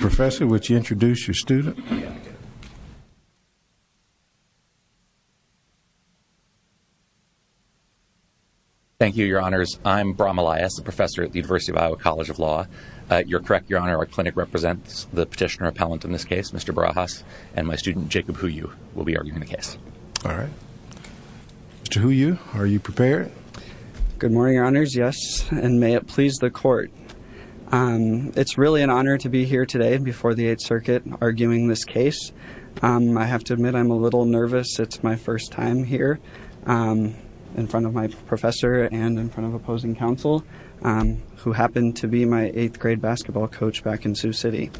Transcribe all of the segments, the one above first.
Professor, would you introduce your student? Thank you, your honors. I'm Brahm Elias, a professor at the University of Iowa College of Law. You're correct, your honor, our clinic represents the petitioner appellant in this case, Mr. Barajas, and my student Jacob Huyu will be arguing the case. All right. Mr. Huyu, are you prepared? Good morning, your honors. Yes, and may it please the court. It's really an honor to be here today before the Eighth Circuit arguing this case. I have to admit I'm a little nervous. It's my first time here in front of my professor and in front of opposing counsel, who happened to be my eighth grade basketball coach back in Sioux City.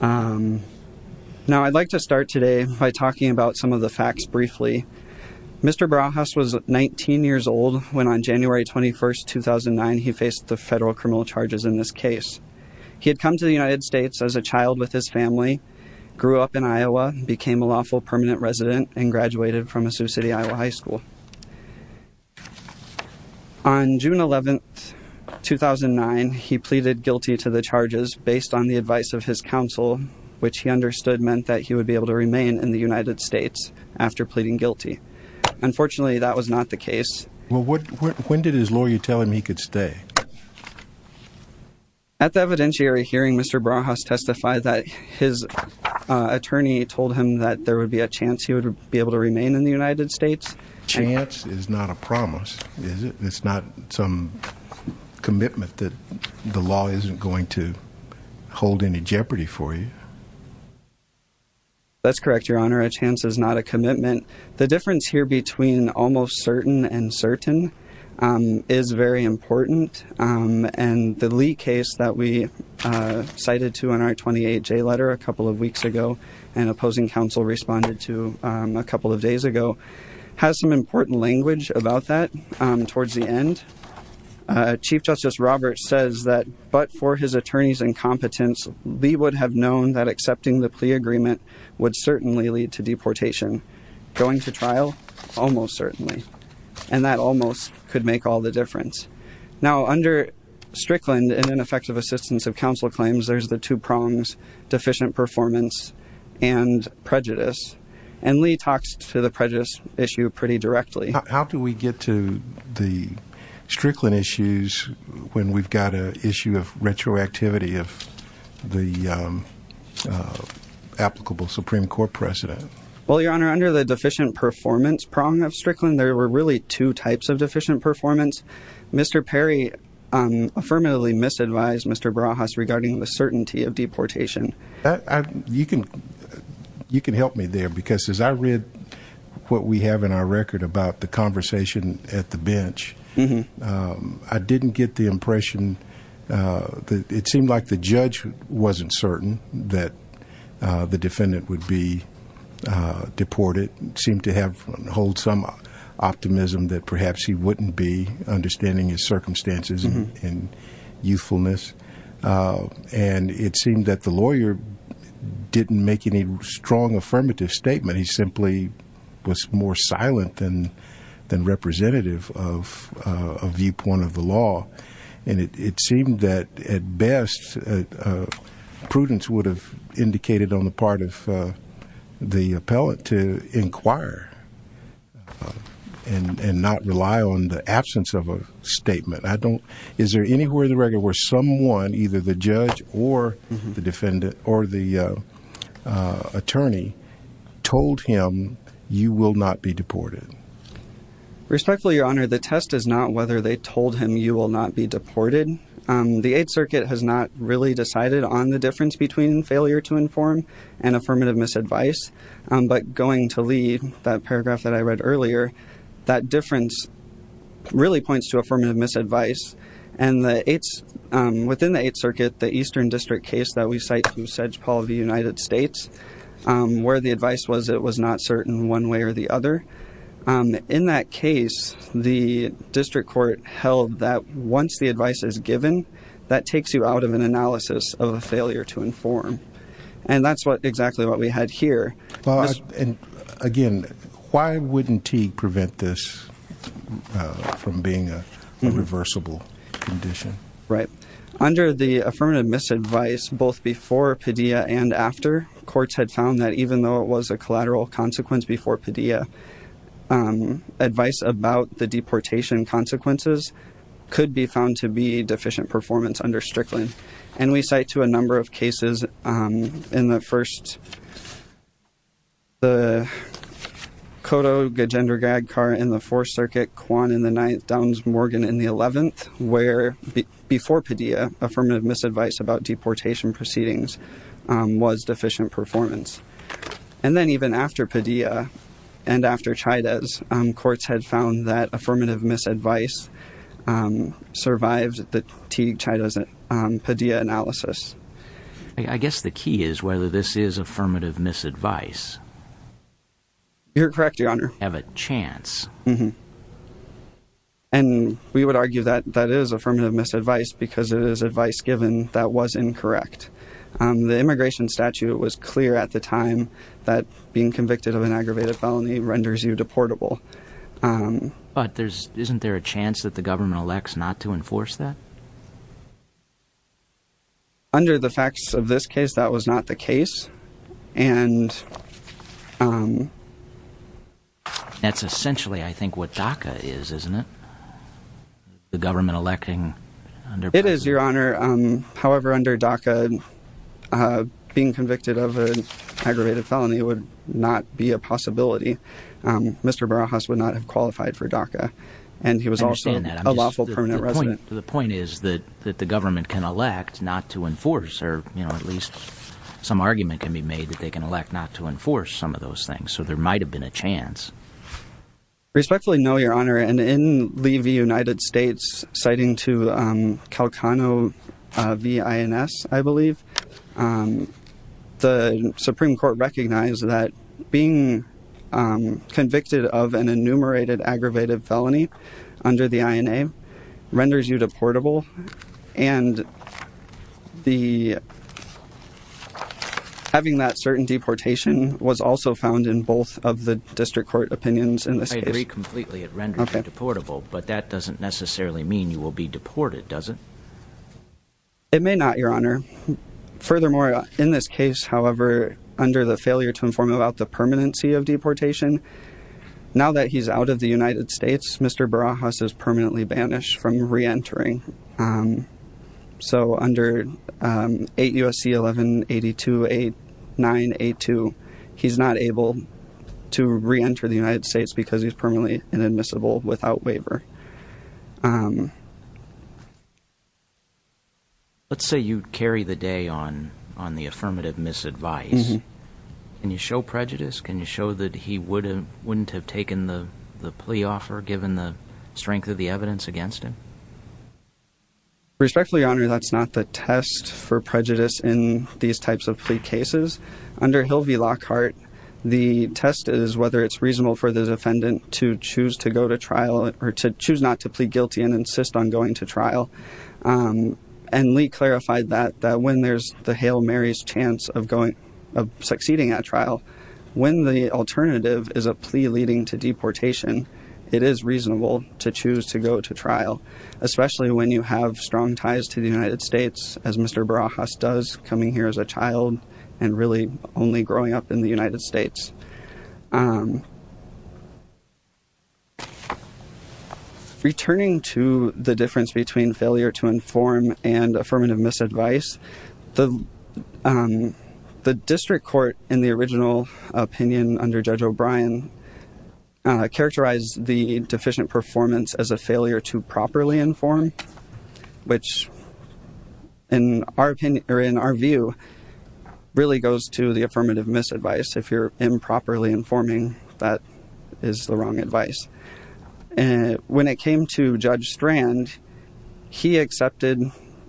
Now I'd like to start today by talking about some of the facts briefly. Mr. Barajas was 19 years old when on case. He had come to the United States as a child with his family, grew up in Iowa, became a lawful permanent resident, and graduated from a Sioux City, Iowa high school. On June 11th, 2009, he pleaded guilty to the charges based on the advice of his counsel, which he understood meant that he would be able to remain in the United States after pleading guilty. Unfortunately, that was not the case. Well, when did his lawyer tell him he could stay? At the evidentiary hearing, Mr. Barajas testified that his attorney told him that there would be a chance he would be able to remain in the United States. Chance is not a promise, is it? It's not some commitment that the law isn't going to hold any jeopardy for you? That's correct, your honor. A chance is not a promise. The fact that the case is certain and certain is very important. And the Lee case that we cited to in our 28-J letter a couple of weeks ago, and opposing counsel responded to a couple of days ago, has some important language about that towards the end. Chief Justice Roberts says that, but for his attorney's incompetence, Lee would have known that accepting the plea agreement would certainly lead to deportation. Going to trial? Almost certainly. And that almost could make all the difference. Now, under Strickland, in ineffective assistance of counsel claims, there's the two prongs, deficient performance and prejudice. And Lee talks to the prejudice issue pretty directly. How do we get to the Strickland issues when we've got a issue of retroactivity of the applicable Supreme Court precedent? Well, your honor, under the two types of deficient performance, Mr. Perry affirmatively misadvised Mr. Barajas regarding the certainty of deportation. You can help me there because as I read what we have in our record about the conversation at the bench, I didn't get the impression that it seemed like the judge wasn't certain that the defendant would be deported, seemed to have hold some optimism that perhaps he wouldn't be understanding his circumstances and youthfulness. And it seemed that the lawyer didn't make any strong affirmative statement. He simply was more silent than representative of a viewpoint of the law. And it seemed that at best, prudence would have indicated on the part of the appellant to inquire and not rely on the absence of a statement. I don't, is there anywhere in the record where someone, either the judge or the defendant or the attorney told him you will not be deported? Respectfully, your honor, the test is not whether they told him you will not be deported. The Eighth Circuit has not really decided on the difference between failure to inform and affirmative misadvice. But going to leave that paragraph that I read earlier, that difference really points to affirmative misadvice. And the Eighth, within the Eighth Circuit, the Eastern District case that we cite from Sedgepole of the United States, where the advice was, it was not certain one way or the other. In that case, the district court held that once the advice is given, that takes you out of an analysis of a failure to inform. And that's what exactly what we had here. And again, why wouldn't Teague prevent this from being a reversible condition? Right. Under the affirmative misadvice, both before Padilla and after, courts had found that even though it was a collateral consequence before Padilla, advice about the deportation consequences could be found to be deficient performance under Strickland. And we cite to a number of cases in the first, the Cotto-Gegendergadkar in the Fourth Circuit, Kwan in the Ninth, Downs-Morgan in the Eleventh, where before Padilla, affirmative misadvice about deportation proceedings was deficient performance. And then even after Padilla and after Chaidez, courts had found that affirmative misadvice survived the Teague-Chaidez-Padilla analysis. I guess the key is whether this is affirmative misadvice. You're correct, Your Honor. Have a chance. And we would argue that that is affirmative misadvice because it is advice given that was incorrect. The immigration statute was clear at the time that being convicted of an aggravated felony renders you deportable. But isn't there a chance that the government elects not to enforce that? Under the facts of this case, that was not the case. And... That's essentially, I think, what DACA is, isn't it? The government electing... It is, Your Honor. However, under DACA, being convicted of an aggravated felony would not be a possibility. Mr. Barajas would not have qualified for DACA. And he was also a lawful permanent resident. The point is that the government can elect not to enforce, or at least some argument can be made that they can elect not to enforce some of those things. So there might have been a chance. Respectfully, no, Your Honor. And in Lee v. United States, citing to Calcano v. INS, I believe, the Supreme Court recognized that being convicted of an enumerated aggravated felony under the INA renders you deportable. And the... I agree completely. It renders you deportable. But that doesn't necessarily mean you will be deported, does it? It may not, Your Honor. Furthermore, in this case, however, under the failure to inform about the permanency of deportation, now that he's out of the United States, Mr. Barajas is permanently banished from reentering. So under 8 U.S.C. 1182-8982, he's not able to return to the United States because he's permanently inadmissible without waiver. Let's say you carry the day on the affirmative misadvice. Can you show prejudice? Can you show that he wouldn't have taken the plea offer given the strength of the evidence against him? Respectfully, Your Honor, that's not the test for prejudice in these types of plea cases. Under Hill v. Lockhart, the test is whether it's reasonable for the defendant to choose to go to trial or to choose not to plead guilty and insist on going to trial. And Lee clarified that when there's the Hail Mary's chance of succeeding at trial, when the alternative is a plea leading to deportation, it is reasonable to choose to go to trial, especially when you have strong ties to the United States, as Mr. Barajas does, coming here as a child and really only growing up in the United States. Returning to the difference between failure to inform and affirmative misadvice, the district court, in the original opinion under Judge O'Brien, characterized the deficient performance as a failure to properly inform, which in our opinion, or in our view, really goes to the affirmative misadvice. If you're improperly informing, that is the wrong advice. And when it came to Judge Strand, he accepted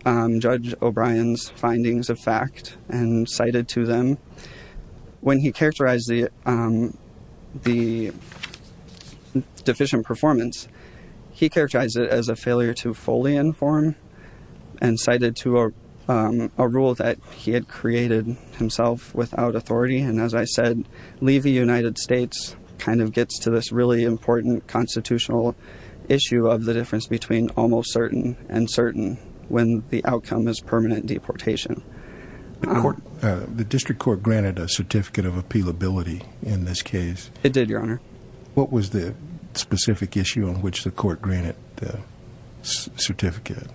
Judge O'Brien's findings of fact and cited to them, when he characterized the deficient performance, he characterized it as a failure to fully inform and cited to a rule that he had created himself without authority. And as I said, leave the United States kind of gets to this really important constitutional issue of the difference between almost certain and certain when the outcome is permanent deportation. The district court granted a certificate of appealability in this case. It did, Your Honor. What was the specific issue on which the court granted the certificate?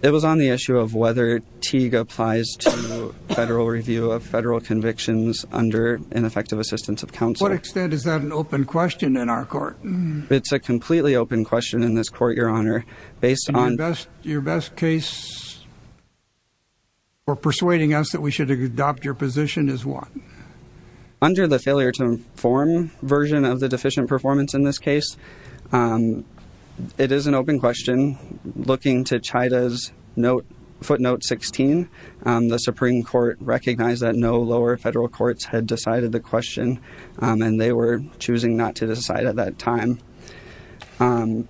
It was on the issue of whether Teague applies to federal review of federal convictions under ineffective assistance of counsel. To what extent is that an open question in our court? It's a completely open question in this court, Your Honor. Your best case for persuading us that we should adopt your position is what? Under the failure to inform version of the deficient performance in this case, it is an open question. Looking to Chida's footnote 16, the Supreme Court recognized that no lower federal courts had decided the question and they were choosing not to decide at that time. So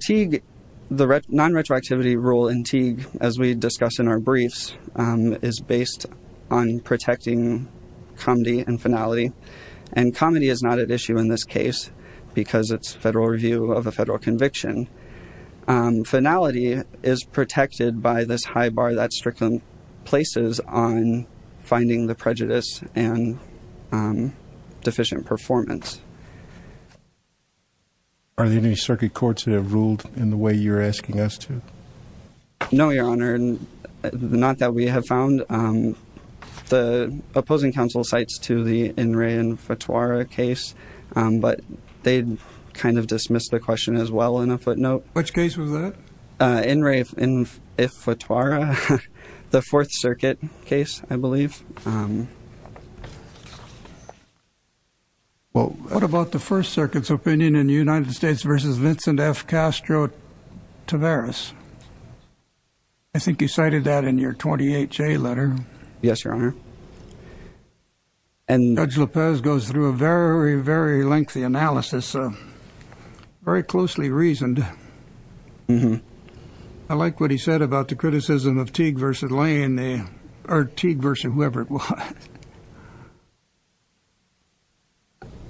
Teague, the non-retroactivity rule in Teague, as we discussed in our briefs, is based on protecting comity and finality. And comity is not at issue in this case because it's federal review of a federal conviction. Finality is protected by this high bar that Strickland places on finding the prejudice and deficient performance. Are there any circuit courts that have ruled in the way you're asking us to? No, Your Honor, not that we have found. The opposing counsel cites to the In Re Infituara case, but they kind of dismissed the question as well in a footnote. Which case was that? In Re Infituara, the Fourth Circuit case, I believe. Well, what about the First Circuit's opinion in the United States versus Vincent F. Castro Tavares? I think you cited that in your 28-J letter. Yes, Your Honor. And Judge Lopez goes through a very, very lengthy analysis, very closely reasoned. I like what he said about the criticism of Teague versus Lane, or Teague versus whoever it was.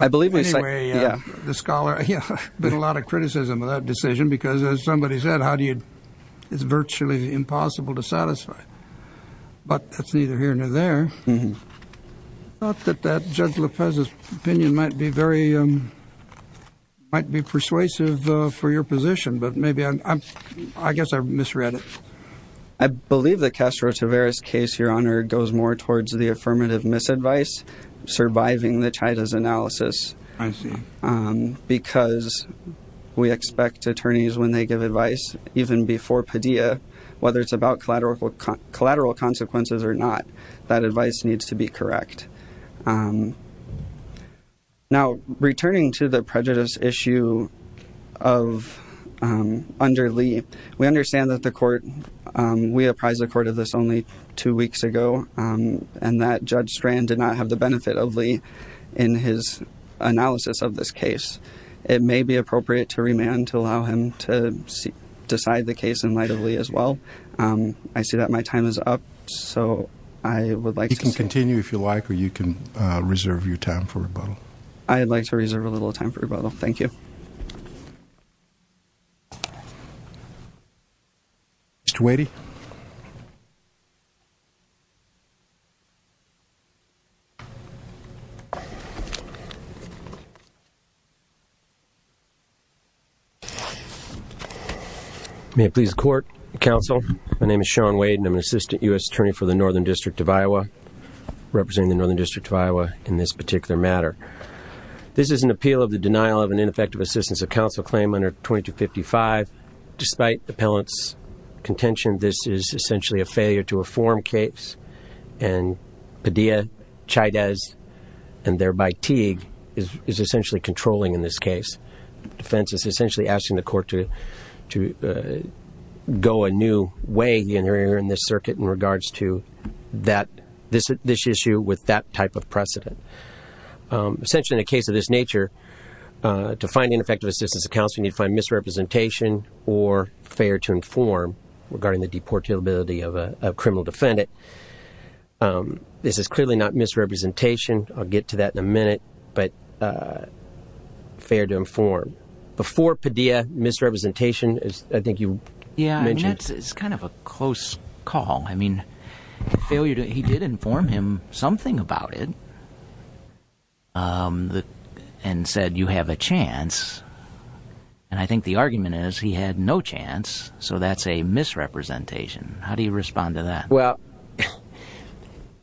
I believe we say, yeah, the scholar, yeah, there's a lot of criticism of that decision because as somebody said, how do you, it's virtually impossible to satisfy, but that's either here or there. I thought that Judge Lopez's opinion might be very, might be persuasive for your position, but maybe I'm, I guess I misread it. I believe the Castro Tavares case, Your Honor, goes more towards the affirmative misadvice, surviving the Chaita's analysis. I see. Because we expect attorneys, when they give advice, even before Padilla, whether it's about collateral consequences or not, that advice needs to be correct. Now, returning to the prejudice issue of, under Lee, we understand that the court, we apprised the court of this only two weeks ago, and that Judge Strand did not have the benefit of Lee in his analysis of this case. It may be appropriate to remand to allow him to decide the case in light of Lee as well. I see that my time is up, so I would like to continue if you like, or you can reserve your time for rebuttal. I'd like to reserve a little time for rebuttal. Thank you. Mr. Wadey. May it please the court, counsel, my name is Sean Wade, and I'm an assistant U.S. attorney for the Northern District of Iowa, representing the Northern District of Iowa in this particular matter. This is an appeal of the denial of an ineffective assistance of counsel claim under 2255. Despite the appellant's contention, this is essentially a failure to reform case, and Padilla, Chaydez, and thereby Teague is essentially controlling in this case. Defense is essentially asking the court to go a new way here in this circuit in regards to this issue with that type of precedent. Essentially, in a case of this nature, to find ineffective assistance of counsel, you have to either fail to inform or fail to inform regarding the deportability of a criminal defendant. This is clearly not misrepresentation. I'll get to that in a minute, but fail to inform before Padilla misrepresentation, as I think you mentioned. Yeah, it's kind of a close call. I mean, the failure to he did inform him something about it and said, you have a chance. He had no chance, so that's a misrepresentation. How do you respond to that? Well,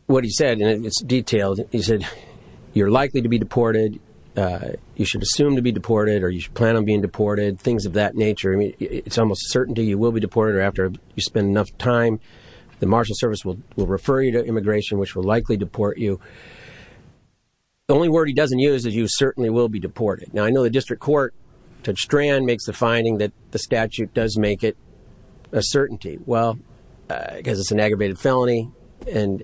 what he said, and it's detailed, he said, you're likely to be deported. You should assume to be deported or you should plan on being deported, things of that nature. I mean, it's almost a certainty you will be deported or after you spend enough time, the marshal service will refer you to immigration, which will likely deport you. The only word he doesn't use is you certainly will be deported. Now, I know the district court, Judge Strand, makes the finding that the statute does make it a certainty. Well, because it's an aggravated felony and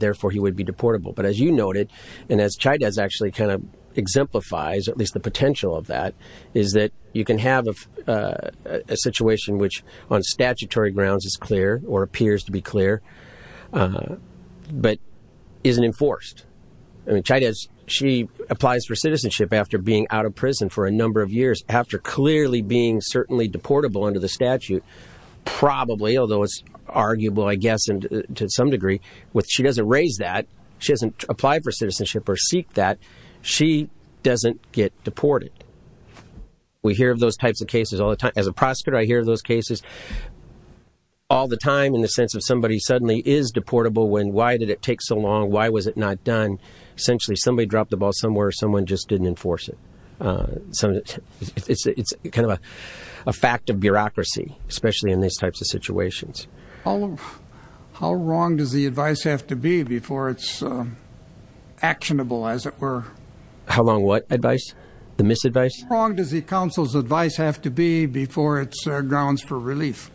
therefore he would be deportable. But as you noted, and as Chavez actually kind of exemplifies, at least the potential of that, is that you can have a situation which on statutory grounds is clear or appears to be clear, but isn't enforced. I mean, Chavez, she applies for citizenship after being out of prison for a number of years, after clearly being certainly deportable under the statute, probably, although it's arguable, I guess, and to some degree, she doesn't raise that. She doesn't apply for citizenship or seek that. She doesn't get deported. We hear of those types of cases all the time. As a prosecutor, I hear those cases all the time in the sense of somebody suddenly is deportable. When why did it take so long? Why was it not done? Essentially, somebody dropped the ball somewhere. Someone just didn't enforce it. So it's kind of a fact of bureaucracy, especially in these types of situations. How wrong does the advice have to be before it's actionable, as it were? How long what advice? The misadvice? How wrong does the counsel's advice have to be before it's grounds for relief?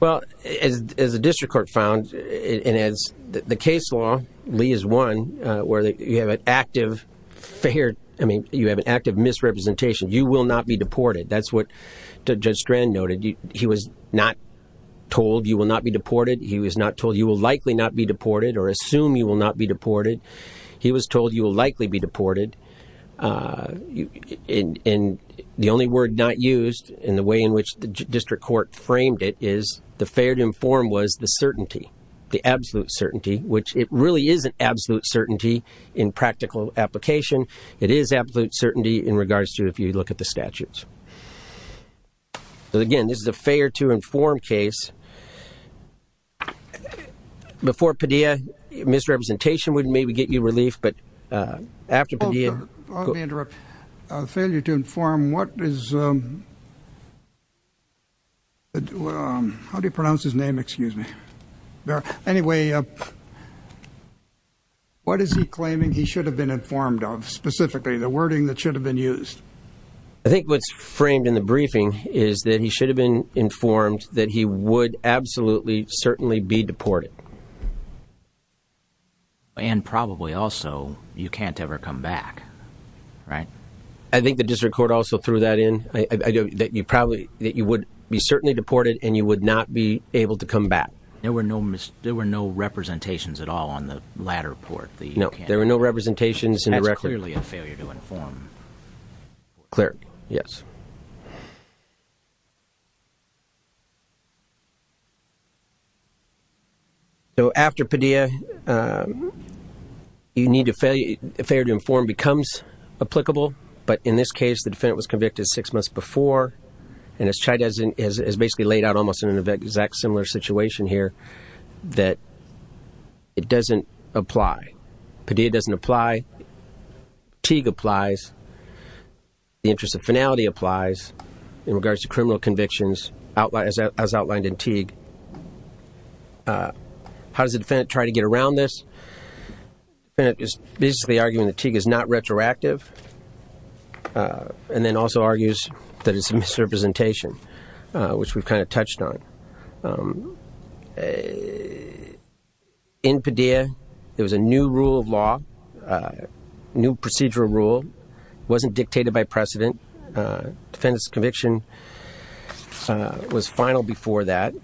Well, as the district court found and as the case law leaves one where you have an active fair, I mean, you have an active misrepresentation, you will not be deported. That's what Judge Strand noted. He was not told you will not be deported. He was not told you will likely not be deported or assume you will not be deported. He was told you will likely be deported. And the only word not used in the way in which the district court framed it is the fair to inform was the certainty, the absolute certainty, which it really is an absolute certainty in practical application. It is absolute certainty in regards to if you look at the statutes. But again, this is a fair to inform case. Before Padilla, misrepresentation would maybe get you relief, but after Padilla. Let me interrupt. Failure to inform what is. How do you pronounce his name? Excuse me. Anyway. What is he claiming he should have been informed of specifically the wording that should have been used? I think what's framed in the briefing is that he should have been informed that he would absolutely certainly be deported. And probably also you can't ever come back, right? I think the district court also threw that in that you probably that you would be certainly deported and you would not be able to come back. There were no there were no representations at all on the latter part. No, there were no representations. And that's clearly a failure to inform. Clear, yes. So after Padilla, you need to fail. Failure to inform becomes applicable. But in this case, the defendant was convicted six months before and as Chai doesn't is basically laid out almost in an exact similar situation here that it doesn't apply. Padilla doesn't apply. Teague applies. The interest of finality applies in regards to criminal convictions, as outlined in Teague. How does the defendant try to get around this? The defendant is basically arguing that Teague is not retroactive and then also argues that it's a misrepresentation, which we've kind of touched on. In Padilla, there was a new rule of law, a new procedural rule wasn't dictated by precedent. Defendant's conviction was final before that.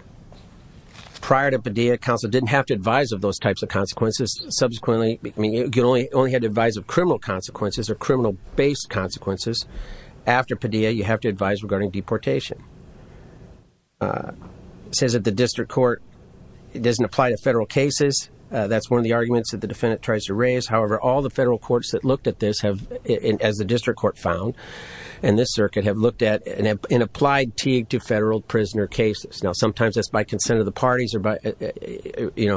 Prior to Padilla, counsel didn't have to advise of those types of consequences. Subsequently, you only had to advise of criminal consequences or criminal based consequences. After Padilla, you have to advise regarding deportation. Says that the district court doesn't apply to federal cases. That's one of the arguments that the defendant tries to raise. However, all the federal courts that looked at this have, as the district court found, and this circuit have looked at and applied Teague to federal prisoner cases. Now, sometimes that's by consent of the parties or by, you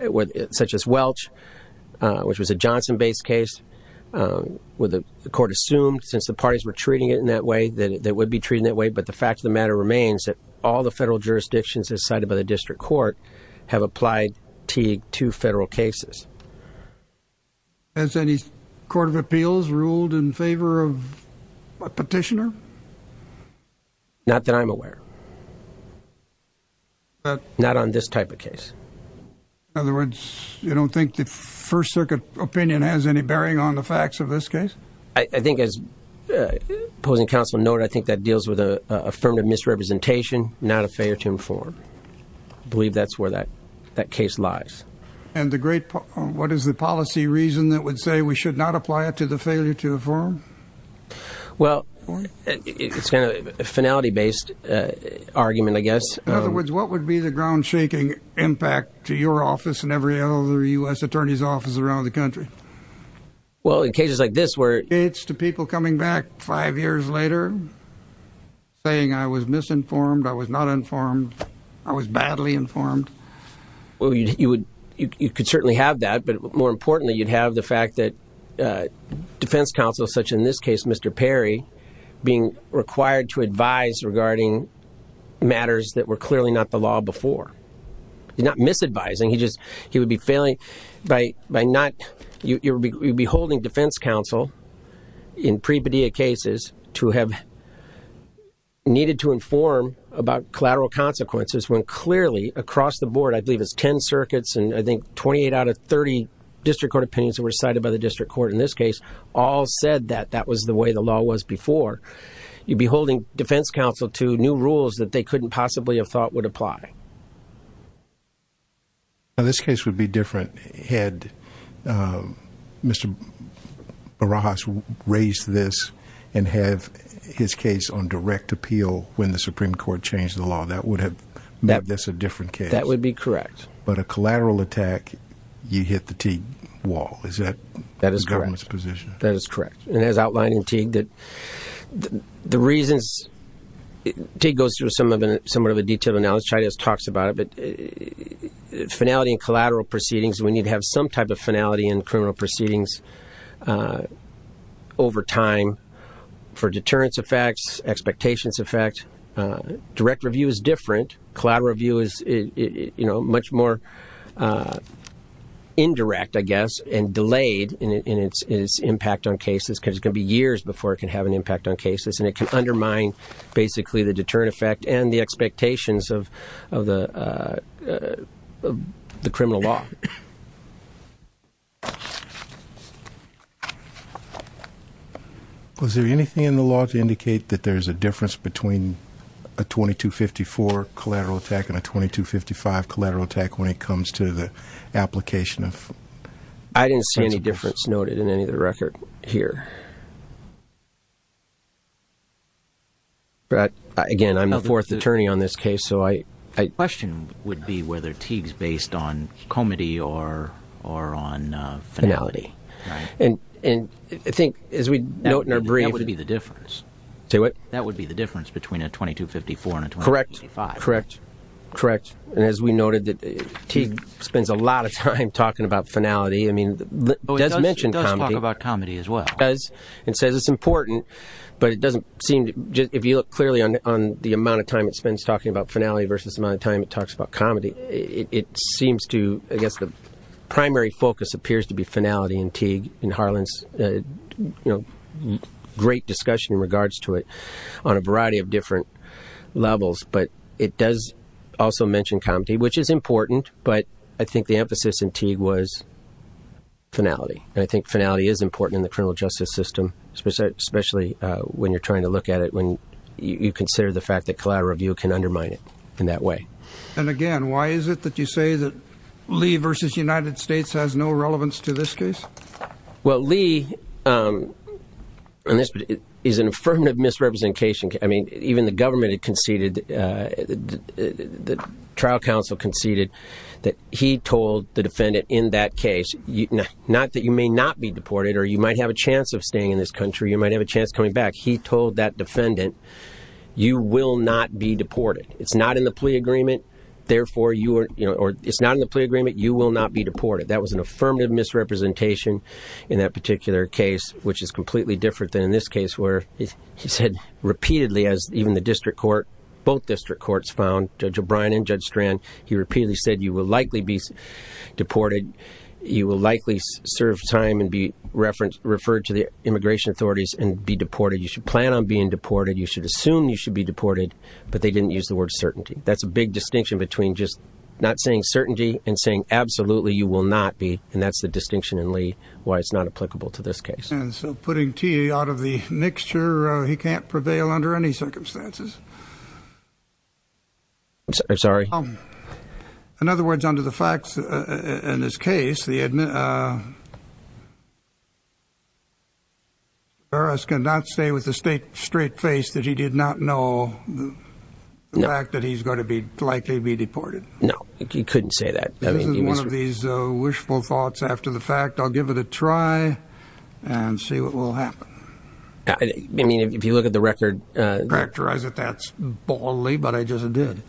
know, such as Welch, which was a Johnson based case where the court assumed since the parties were treating it in that way, that it would be treated that way. But the fact of the matter remains that all the federal jurisdictions decided by the district court have applied Teague to federal cases. Has any court of appeals ruled in favor of a petitioner? Not that I'm aware. But not on this type of case. In other words, you don't think the First Circuit opinion has any bearing on the facts of this case? I think as opposing counsel noted, I think that deals with a affirmative misrepresentation, not a failure to inform. I believe that's where that that case lies. And the great what is the policy reason that would say we should not apply it to the failure to inform? Well, it's a finality based argument, I guess. In other words, what would be the ground shaking impact to your office and every other U.S. attorney's office around the country? Well, in cases like this where it's to people coming back five years later. Saying I was misinformed, I was not informed, I was badly informed. Well, you would you could certainly have that, but more importantly, you'd have the fact that defense counsel, such in this case, Mr. Perry, being required to advise regarding matters that were clearly not the law before. He's not misadvising. He just he would be failing by by not you would be holding defense counsel in pre-pedia cases to have needed to inform about collateral consequences when clearly across the board, I believe it's 10 circuits and I think 28 out of 30 district court opinions were cited by the district court in this case. All said that that was the way the law was before. You'd be holding defense counsel to new rules that they couldn't possibly have thought would apply. Now, this case would be different had Mr. Barajas raised this and have his case on direct appeal when the Supreme Court changed the law. That would have that that's a different case. That would be correct. But a collateral attack, you hit the wall. Is that that is correct? That is correct. And as outlined in Teague, that the reasons it goes through some of the somewhat of a detailed analysis talks about it. But finality and collateral proceedings, we need to have some type of finality in criminal proceedings over time for deterrence effects, expectations effect, direct review is different. Collateral review is, you know, much more indirect, I guess, and delayed in its impact on cases because it can be years before it can have an impact on cases and it can undermine basically the deterrent effect and the expectations of the criminal law. Was there anything in the law to indicate that there is a difference between a 2254 collateral attack and a 2255 collateral attack when it comes to the application of? I didn't see any difference noted in any of the record here. But again, I'm the fourth attorney on this case, so I question would be whether Teague's based on comity or or on finality. And I think as we note in our brief, it would be the difference. Say what? That would be the difference between a 2254 and a 2255. Correct. Correct. Correct. And as we noted, Teague spends a lot of time talking about finality. I mean, it does mention it does talk about comity as well as it says it's important, but it doesn't seem if you look clearly on the amount of time it spends talking about finality versus the amount of time it talks about comity. It seems to I guess the primary focus appears to be finality in Teague in Harlan's great discussion in regards to it on a variety of different levels. But it does also mention comity, which is important. But I think the emphasis in Teague was finality. And I think finality is important in the criminal justice system, especially when you're trying to look at it, when you consider the fact that collateral review can undermine it in that way. And again, why is it that you say that Lee versus United States has no relevance to this case? Well, Lee is an affirmative misrepresentation. I mean, even the government had conceded, the trial counsel conceded that he told the defendant in that case, not that you may not be deported or you might have a chance of staying in this country, you might have a chance coming back. He told that defendant, you will not be deported. It's not in the plea agreement. Therefore, you know, it's not in the plea agreement. You will not be deported. That was an affirmative misrepresentation in that particular case, which is completely different than in this case where he said repeatedly, as even the district court, both district courts found, Judge O'Brien and Judge Strand, he repeatedly said you will likely be deported. You will likely serve time and be referred to the immigration authorities and be deported. You should plan on being deported. You should assume you should be deported. But they didn't use the word certainty. That's a big distinction between just not saying certainty and saying, absolutely, you will not be. And that's the distinction in Lee why it's not applicable to this case. And so putting T out of the mixture, he can't prevail under any circumstances. Sorry. In other words, under the facts in this case, the he did not know the fact that he's going to be likely to be deported. No, you couldn't say that. I mean, one of these wishful thoughts after the fact, I'll give it a try and see what will happen. I mean, if you look at the record, characterize it. That's boldly. But I just did.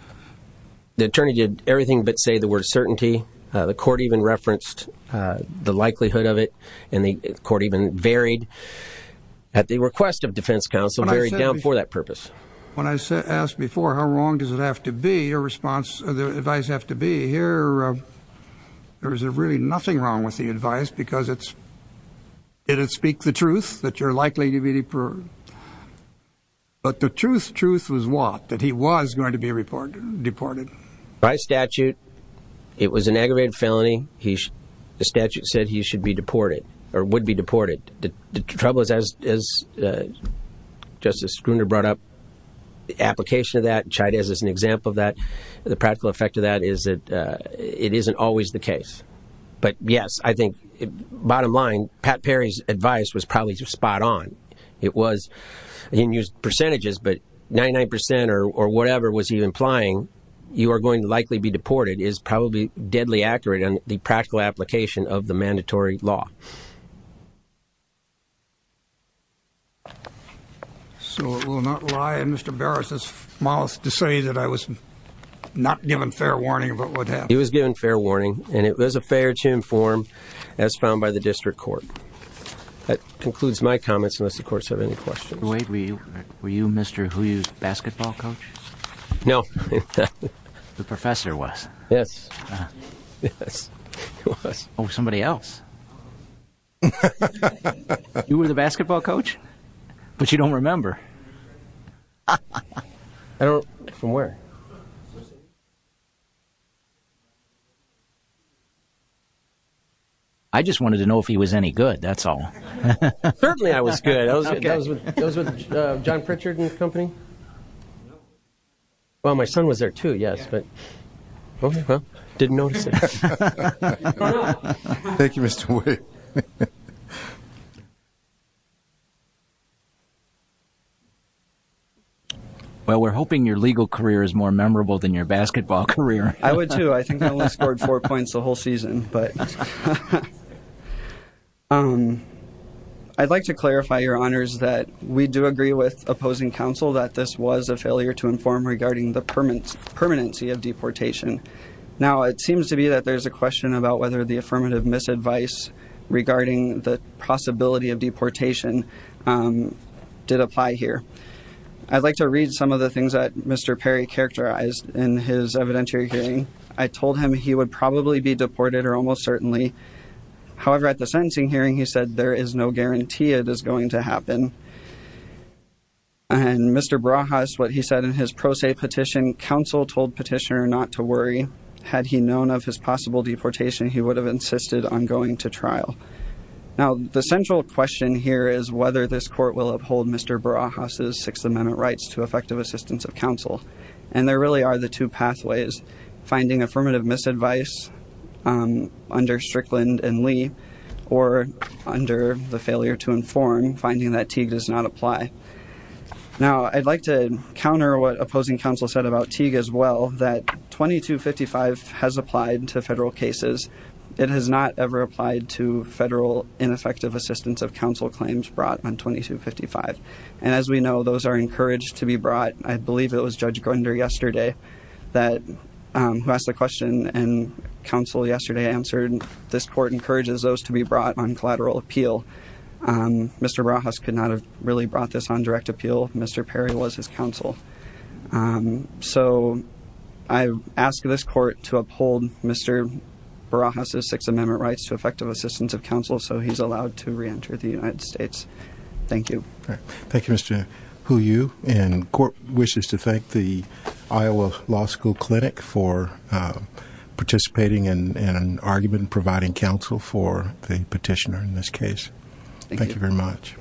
The attorney did everything but say the word certainty. The court even referenced the likelihood of it. And the court even varied at the request of defense counsel. I'm very down for that purpose. When I asked before, how wrong does it have to be? Your response, the advice have to be here. There is really nothing wrong with the advice because it's. Did it speak the truth that you're likely to be deported? But the truth, truth was what? That he was going to be a reporter deported by statute. It was an aggravated felony. He the statute said he should be deported or would be deported. The trouble is, as Justice Gruner brought up the application of that, Chavez is an example of that. The practical effect of that is that it isn't always the case. But yes, I think bottom line, Pat Perry's advice was probably spot on. It was in percentages, but 99 percent or whatever was he implying you are going to likely be deported is probably deadly accurate on the practical application of the mandatory law. So it will not lie in Mr. Barris's mouth to say that I was not given fair warning about what happened. He was given fair warning and it was a fair to inform as found by the district court. That concludes my comments. And this, of course, have any questions. Wait, were you were you Mr. Who used basketball coach? No, the professor was. Yes, it was. Oh, somebody else. You were the basketball coach, but you don't remember. I don't know from where. I just wanted to know if he was any good, that's all. Certainly I was good. I was with John Pritchard and company. Well, my son was there, too, yes, but I didn't notice it. Thank you, Mr. Well, we're hoping your legal career is more memorable than your basketball career. I would, too. I think I only scored four points the whole season, but I'd like to clarify your honors that we do agree with opposing counsel that this was a failure to inform regarding the permanence permanency of deportation. Now, it seems to be that there's a question about whether the affirmative of deportation did apply here. I'd like to read some of the things that Mr. Perry characterized in his evidentiary hearing. I told him he would probably be deported or almost certainly. However, at the sentencing hearing, he said, there is no guarantee it is going to happen. And Mr. Barajas, what he said in his pro se petition, counsel told petitioner not to worry, had he known of his possible deportation, he would have insisted on going to trial. Now, the central question here is whether this court will uphold Mr. Barajas' Sixth Amendment rights to effective assistance of counsel. And there really are the two pathways, finding affirmative misadvice, um, under Strickland and Lee, or under the failure to inform, finding that Teague does not apply. Now, I'd like to counter what opposing counsel said about Teague as well, that 2255 has applied to federal cases. It has not ever applied to federal ineffective assistance of counsel claims brought on 2255. And as we know, those are encouraged to be brought. I believe it was Judge Grunder yesterday that, um, who asked the question and counsel yesterday answered, this court encourages those to be brought on collateral appeal. Um, Mr. Barajas could not have really brought this on direct appeal. Mr. Perry was his counsel. Um, so I've asked this court to uphold Mr. Barajas' Sixth Amendment rights to effective assistance of counsel. So he's allowed to reenter the United States. Thank you. Thank you, Mr. Hu Yu. And court wishes to thank the Iowa Law School Clinic for, uh, participating in an argument and providing counsel for the petitioner in this case. Thank you very much.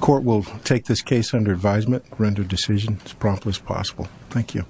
Court will take this case under advisement, render decision as promptly as possible. Thank you.